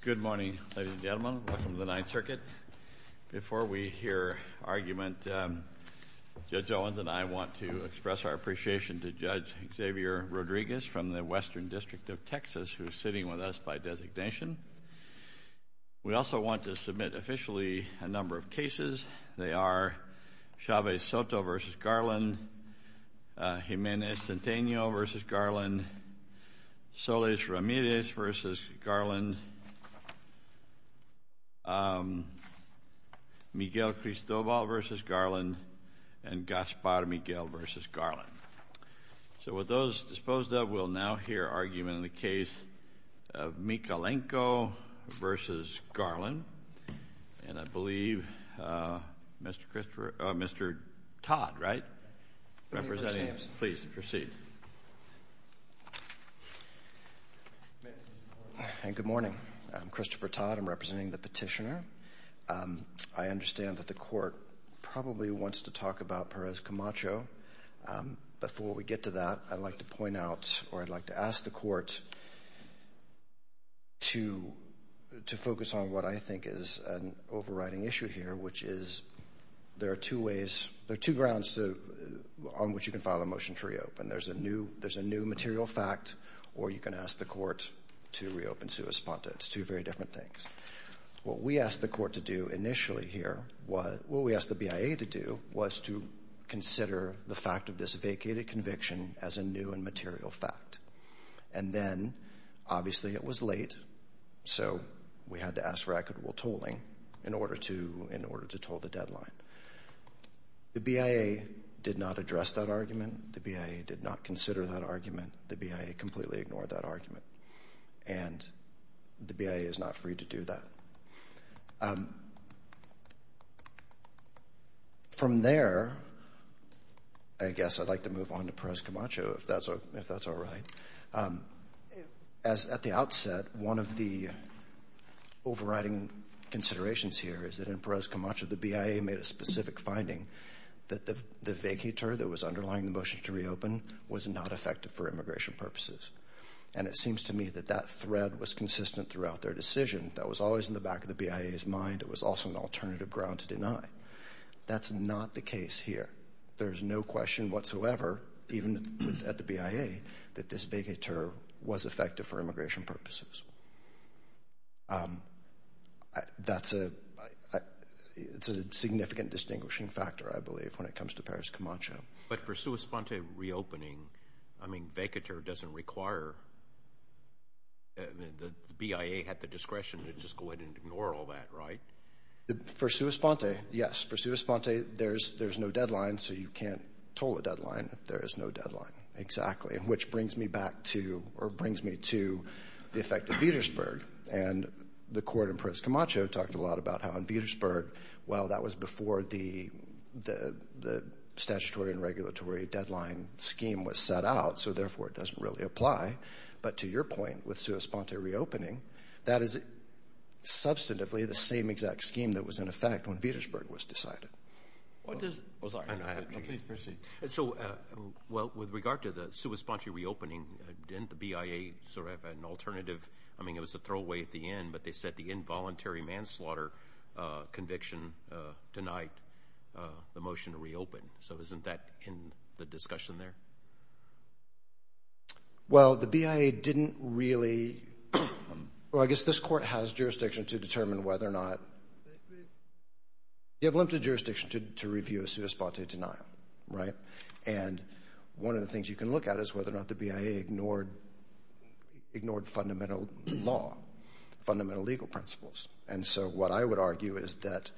Good morning, ladies and gentlemen, welcome to the Ninth Circuit. Before we hear argument, Judge Owens and I want to express our appreciation to Judge Xavier Rodriguez from the Western District of Texas, who is sitting with us by designation. We also want to submit officially a number of cases. They are Chavez-Soto v. Garland, Jimenez-Centeno v. Garland, Solis-Ramirez v. Garland, Miguel-Cristobal v. Garland, and Gaspar-Miguel v. Garland. So with those disposed of, we'll now hear argument in the case of Mikhalenko v. Garland. And I believe Mr. Christopher, or Mr. Todd, right, representing, please proceed. Good morning, I'm Christopher Todd, I'm representing the Petitioner. I understand that the Court probably wants to talk about Perez Camacho, but before we do, I want to focus on what I think is an overriding issue here, which is there are two ways, there are two grounds on which you can file a motion to reopen. There's a new material fact, or you can ask the Court to reopen sua sponta, it's two very different things. What we asked the Court to do initially here, what we asked the BIA to do, was to consider the fact of this vacated conviction as a new and material fact. And then, obviously it was late, so we had to ask for equitable tolling in order to toll the deadline. The BIA did not address that argument, the BIA did not consider that argument, the BIA completely ignored that argument, and the BIA is not free to do that. From there, I guess I'd like to move on to Perez Camacho, if that's all right. As at the outset, one of the overriding considerations here is that in Perez Camacho, the BIA made a specific finding, that the vacator that was underlying the motion to reopen was not effective for immigration purposes. And it seems to me that that thread was consistent throughout their decision, that was always in the back of the BIA's mind, it was also an alternative ground to deny. That's not the case here. There's no question whatsoever, even at the BIA, that this vacator was effective for immigration purposes. That's a significant distinguishing factor, I believe, when it comes to Perez Camacho. But for sua sponta reopening, I mean, vacator doesn't require, the BIA had the discretion to just go ahead and ignore all that, right? For sua sponta, yes. For sua sponta, there's no deadline, so you can't toll a deadline if there is no deadline, exactly. Which brings me back to, or brings me to, the effect of Vietersburg. And the court in Perez Camacho talked a lot about how in Vietersburg, well, that was before the statutory and regulatory deadline scheme was set out, so therefore it doesn't really apply. But to your point, with sua sponta reopening, that is substantively the same exact scheme that was in effect when Vietersburg was decided. What does... I'm sorry. Please proceed. So, well, with regard to the sua sponta reopening, didn't the BIA sort of have an alternative, I mean, it was a throwaway at the end, but they said the involuntary manslaughter conviction denied the motion to reopen. So isn't that in the discussion there? Well, the BIA didn't really... Well, I guess this court has jurisdiction to determine whether or not... You have limited jurisdiction to review a sua sponta denial, right? And one of the things you can look at is whether or not the BIA ignored fundamental law, fundamental legal principles. And so what I would argue is that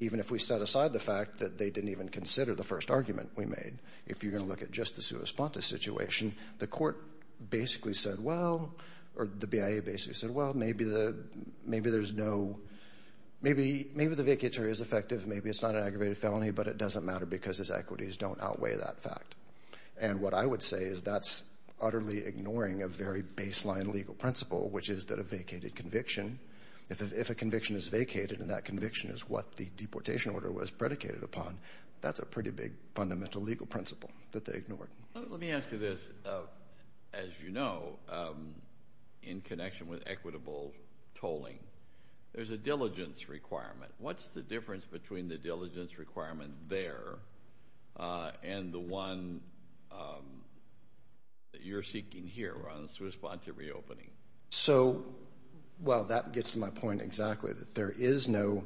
even if we set aside the fact that they didn't even look at just the sua sponta situation, the court basically said, well, or the BIA basically said, well, maybe there's no... Maybe the vacatur is effective, maybe it's not an aggravated felony, but it doesn't matter because his equities don't outweigh that fact. And what I would say is that's utterly ignoring a very baseline legal principle, which is that a vacated conviction, if a conviction is vacated and that conviction is what the deportation order was predicated upon, that's a pretty big fundamental legal principle, that they ignored. Let me ask you this, as you know, in connection with equitable tolling, there's a diligence requirement. What's the difference between the diligence requirement there and the one that you're seeking here on sua sponta reopening? So, well, that gets to my point exactly, that there is no...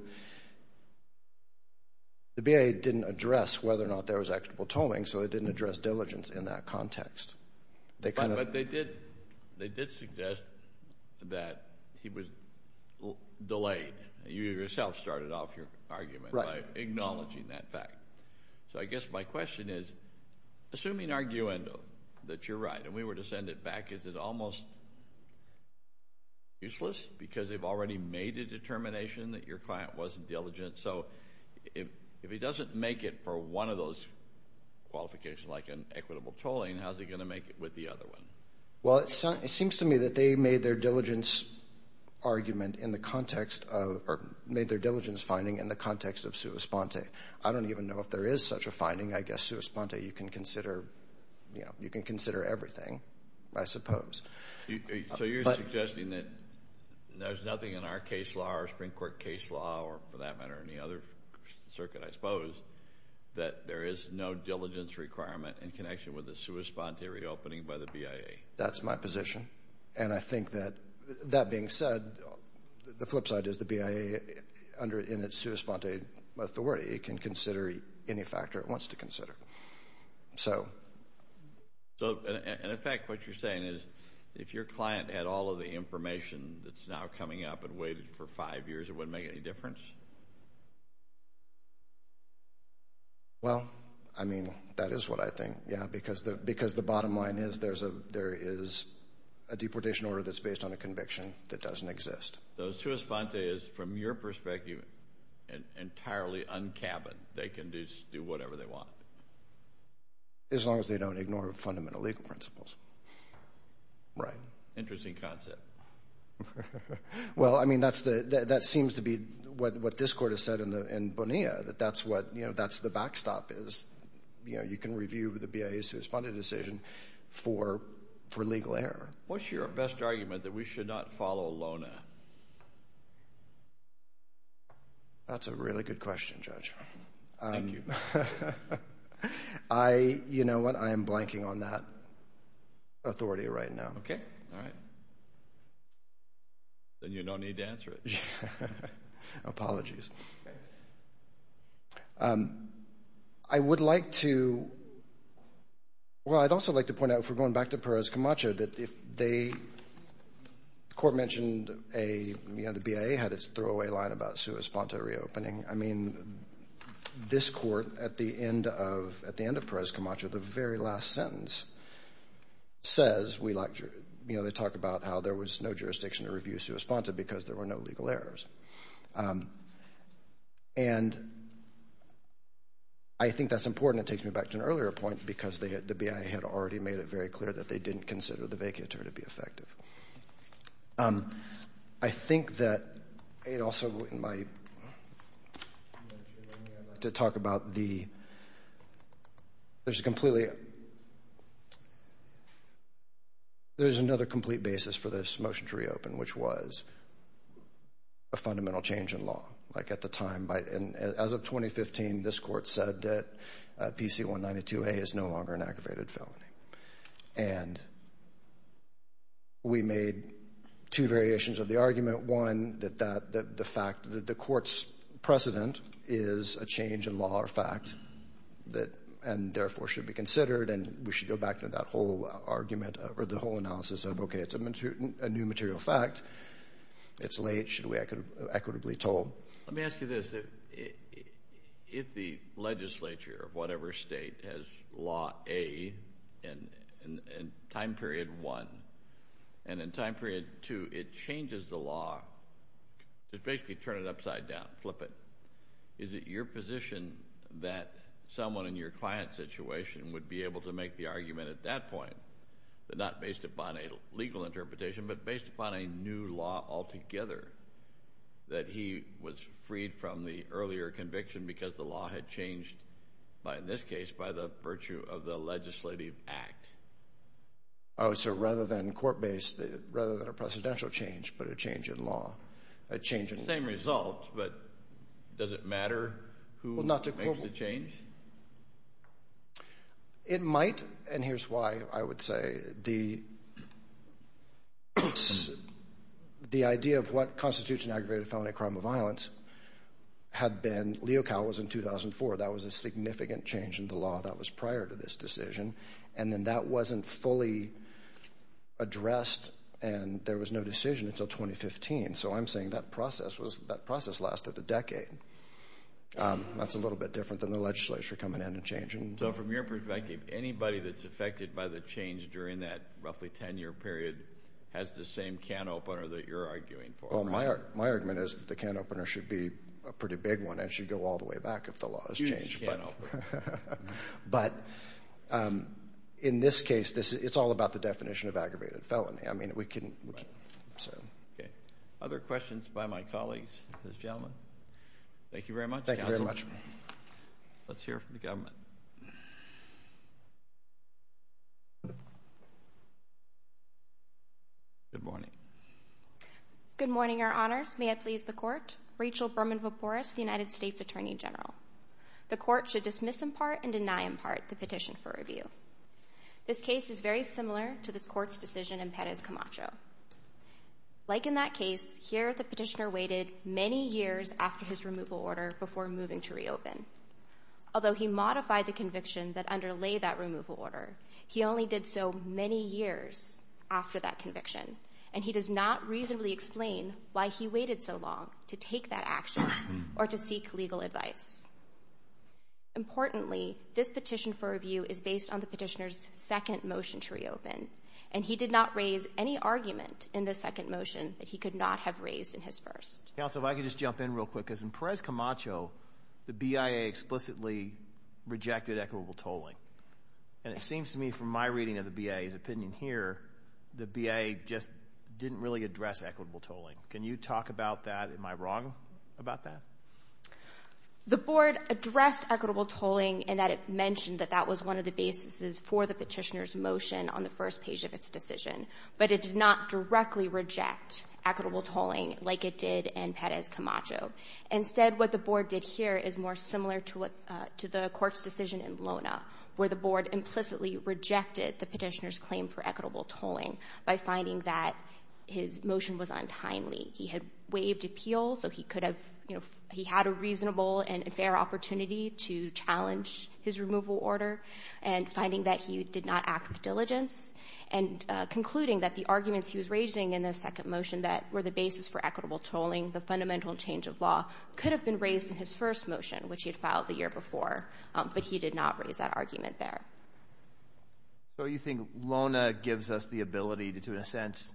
The BIA didn't address whether or not there was equitable tolling, so they didn't address diligence in that context. They kind of... But they did suggest that he was delayed. You yourself started off your argument by acknowledging that fact. So, I guess my question is, assuming arguendo, that you're right, and we were to send it back, is it almost useless because they've already made a determination that your client wasn't diligent? So, if he doesn't make it for one of those qualifications, like an equitable tolling, how's he going to make it with the other one? Well, it seems to me that they made their diligence argument in the context of... Or made their diligence finding in the context of sua sponta. I don't even know if there is such a finding. I guess sua sponta, you can consider everything, I suppose. So, you're suggesting that there's nothing in our case law, our Supreme Court case law, or for that matter, any other circuit, I suppose, that there is no diligence requirement in connection with the sua sponta reopening by the BIA? That's my position. And I think that, that being said, the flip side is the BIA, in its sua sponta authority, can consider any factor it wants to consider. So... So, and in fact, what you're saying is, if your client had all of the information that's now coming up and waited for five years, it wouldn't make any difference? Well, I mean, that is what I think, yeah, because the bottom line is, there is a deportation order that's based on a conviction that doesn't exist. So sua sponta is, from your perspective, entirely un-cabin. They can just do whatever they want. As long as they don't ignore fundamental legal principles. Right. Interesting concept. Well, I mean, that seems to be what this court has said in Bonilla, that that's what, you know, that's the backstop is, you know, you can review the BIA sua sponta decision for legal error. What's your best argument that we should not follow LONA? That's a really good question, Judge. Thank you. You know what? I am blanking on that authority right now. Okay. All right. Then you don't need to answer it. Apologies. I would like to, well, I'd also like to point out, if we're going back to Perez Camacho, that if they, the court mentioned a, you know, the BIA had its throwaway line about sua sponta reopening. I mean, this court, at the end of Perez Camacho, the very last sentence, says, we like jury about how there was no jurisdiction to review sua sponta because there were no legal errors. And I think that's important. It takes me back to an earlier point because they had, the BIA had already made it very clear that they didn't consider the vacatur to be effective. I think that it also, in my, to talk about the, there's a completely, there's another complete basis for this motion to reopen, which was a fundamental change in law. Like at the time, as of 2015, this court said that PC-192A is no longer an aggravated felony. And we made two variations of the argument. One, that the fact that the court's precedent is a change in law or fact that, and therefore, should be considered. And we should go back to that whole argument or the whole analysis of, okay, it's a new material fact. It's late. Should we equitably toll? Let me ask you this. If the legislature of whatever state has law A in time period one, and in time period two, it changes the law to basically turn it upside down, flip it. Is it your position that someone in your client's situation would be able to make the argument at that point, but not based upon a legal interpretation, but based upon a new law altogether, that he was freed from the earlier conviction because the law had changed by, in this case, by the virtue of the legislative act? Oh, so rather than court-based, rather than a precedential change, but a change in law. A change in law. It's the same result, but does it matter who makes the change? It might, and here's why I would say. The idea of what constitutes an aggravated felony crime of violence had been, Leo Cal was in 2004. That was a significant change in the law that was prior to this decision. And then that wasn't fully addressed and there was no decision until 2015. So I'm saying that process lasted a decade. That's a little bit different than the legislature coming in and changing. So from your perspective, anybody that's affected by the change during that roughly 10-year period has the same can opener that you're arguing for? Well, my argument is that the can opener should be a pretty big one and should go all the way back if the law is changed. But in this case, it's all about the definition of aggravated felony. I mean, we can... Okay. Other questions by my colleagues, this gentleman? Thank you very much. Thank you very much. Let's hear from the government. Good morning. Good morning, your honors. May it please the court. Rachel Berman-Vopores, the United States Attorney General. The court should dismiss in part and deny in part the petition for review. This case is very similar to this court's decision in Perez Camacho. Like in that case, here the petitioner waited many years after his removal order before moving to reopen. Although he modified the conviction that underlay that removal order, he only did so many years after that conviction. And he does not reasonably explain why he waited so long to take that action or to seek legal advice. Importantly, this petition for review is based on the petitioner's second motion to reopen. And he did not raise any argument in the second motion that he could not have raised in his first. Counsel, if I could just jump in real quick. Because in Perez Camacho, the BIA explicitly rejected equitable tolling. And it seems to me from my reading of the BIA's opinion here, the BIA just didn't really address equitable tolling. Can you talk about that? Am I wrong about that? The board addressed equitable tolling in that it mentioned that that was one of the bases for the petitioner's motion on the first page of its decision. But it did not directly reject equitable tolling like it did in Perez Camacho. Instead, what the board did here is more similar to the court's decision in Lona, where the board implicitly rejected the petitioner's claim for equitable tolling by finding that his motion was untimely. He had waived appeal, so he could have, you know, he had a reasonable and fair opportunity to challenge his removal order, and finding that he did not act with diligence, and concluding that the arguments he was raising in the second motion that were the basis for equitable tolling, the fundamental change of law, could have been raised in his first motion, which he had filed the year before, but he did not raise that argument there. So, you think Lona gives us the ability to, in a sense,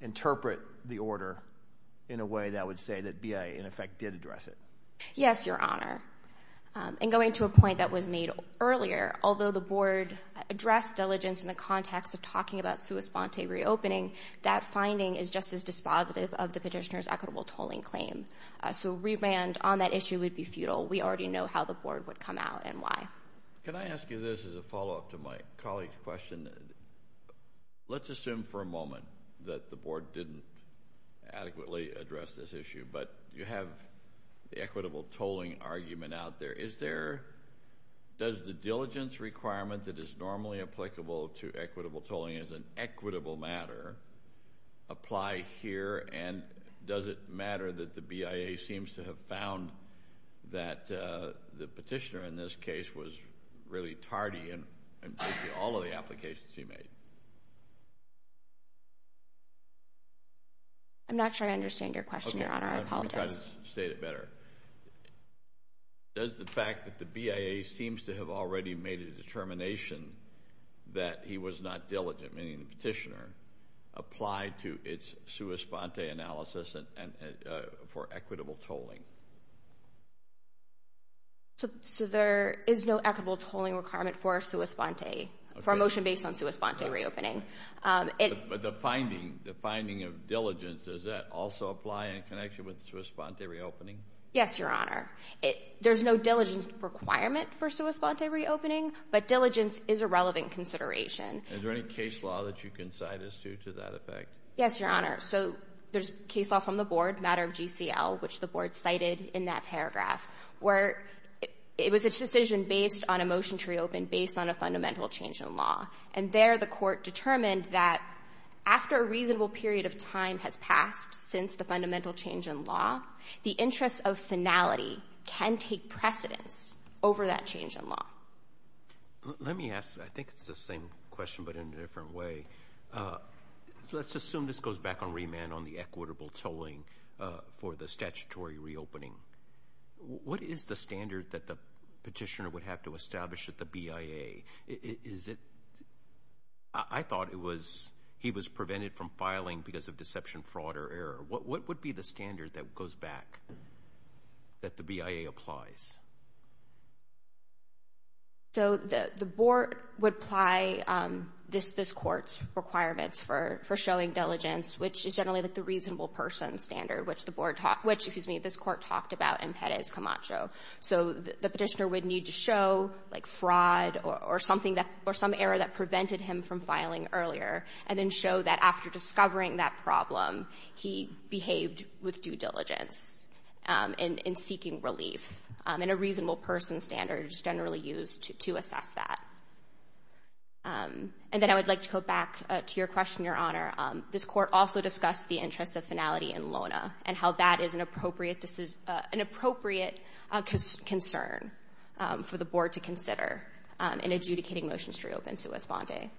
interpret the order in a way that would say that BIA, in effect, did address it? Yes, Your Honor. And going to a point that was made earlier, although the board addressed diligence in the context of talking about sua sponte reopening, that finding is just as dispositive of the petitioner's equitable tolling claim. So, remand on that issue would be futile. We already know how the board would come out and why. Can I ask you this as a follow-up to my colleague's question? Let's assume for a moment that the board didn't adequately address this issue, but you have the equitable tolling argument out there. Is there, does the diligence requirement that is normally applicable to equitable tolling as an equitable matter apply here, and does it matter that the BIA seems to have found that the petitioner, in this case, was really tardy in all of the applications he made? I'm not sure I understand your question, Your Honor. I apologize. Okay. I'll try to state it better. Does the fact that the BIA seems to have already made a determination that he was not diligent, meaning the petitioner, apply to its sua sponte analysis for equitable tolling? So, there is no equitable tolling requirement for sua sponte, for a motion based on sua sponte reopening. But the finding, the finding of diligence, does that also apply in connection with sua sponte reopening? Yes, Your Honor. There's no diligence requirement for sua sponte reopening, but diligence is a relevant consideration. Is there any case law that you can cite as due to that effect? Yes, Your Honor. So, there's case law from the board, matter of GCL, which the board cited in that paragraph, where it was a decision based on a motion to reopen based on a fundamental change in law. And there, the court determined that after a reasonable period of time has passed since the fundamental change in law, the interest of finality can take precedence over that change in law. Let me ask, I think it's the same question but in a different way. Let's assume this goes back on remand on the equitable tolling for the statutory reopening. What is the standard that the petitioner would have to establish at the BIA? Is it, I thought it was, he was prevented from filing because of deception, fraud, or error. What would be the standard that goes back, that the BIA applies? So, the board would apply this court's requirements for showing diligence, which is generally the reasonable person standard, which the board, which, excuse me, this court talked about in Perez Camacho. So, the petitioner would need to show, like, fraud or something that, or some error that prevented him from filing earlier, and then show that after discovering that problem, he behaved with due diligence in seeking relief. And a reasonable person standard is generally used to assess that. And then I would like to go back to your question, Your Honor. This court also discussed the interest of finality in LONA and how that is an appropriate concern for the board to consider in adjudicating motions to reopen Sue S. Bondi.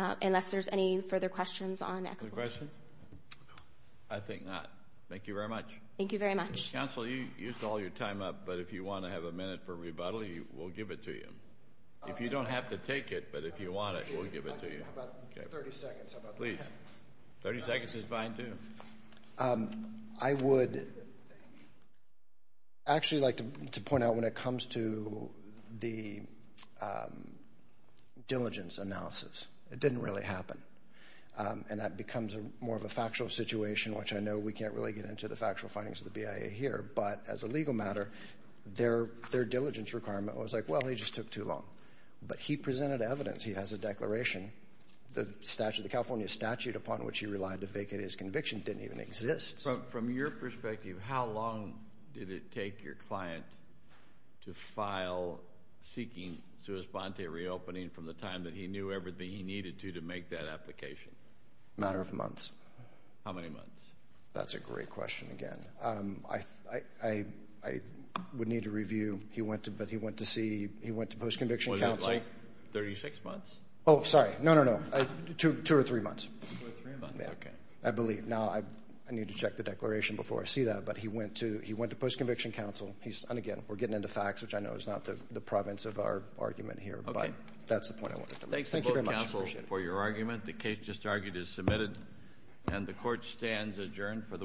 Thank you. Unless there's any further questions on equity. Other questions? I think not. Thank you very much. Thank you very much. Counsel, you used all your time up, but if you want to have a minute for rebuttal, we'll give it to you. If you don't have to take it, but if you want it, we'll give it to you. How about 30 seconds? Please. 30 seconds is fine, too. I would actually like to point out when it comes to the diligence analysis, it didn't really happen. And that becomes more of a factual situation, which I know we can't really get into the factual findings of the BIA here, but as a legal matter, their diligence requirement was like, well, he just took too long. But he presented evidence. He has a declaration, the California statute upon which he relied to vacate his conviction didn't even exist. From your perspective, how long did it take your client to file seeking sui sponte reopening from the time that he knew everything he needed to to make that application? A matter of months. How many months? That's a great question again. I would need to review. He went to post-conviction counsel. Was it like 36 months? Oh, sorry. No, no, no. Two or three months. Two or three months. Okay. I believe. Now, I need to check the declaration before I see that, but he went to post-conviction counsel. And again, we're getting into facts, which I know is not the province of our argument here. Okay. But that's the point I wanted to make. Thanks to both counsel for your argument. The case just argued is submitted. And the court stands adjourned for the week.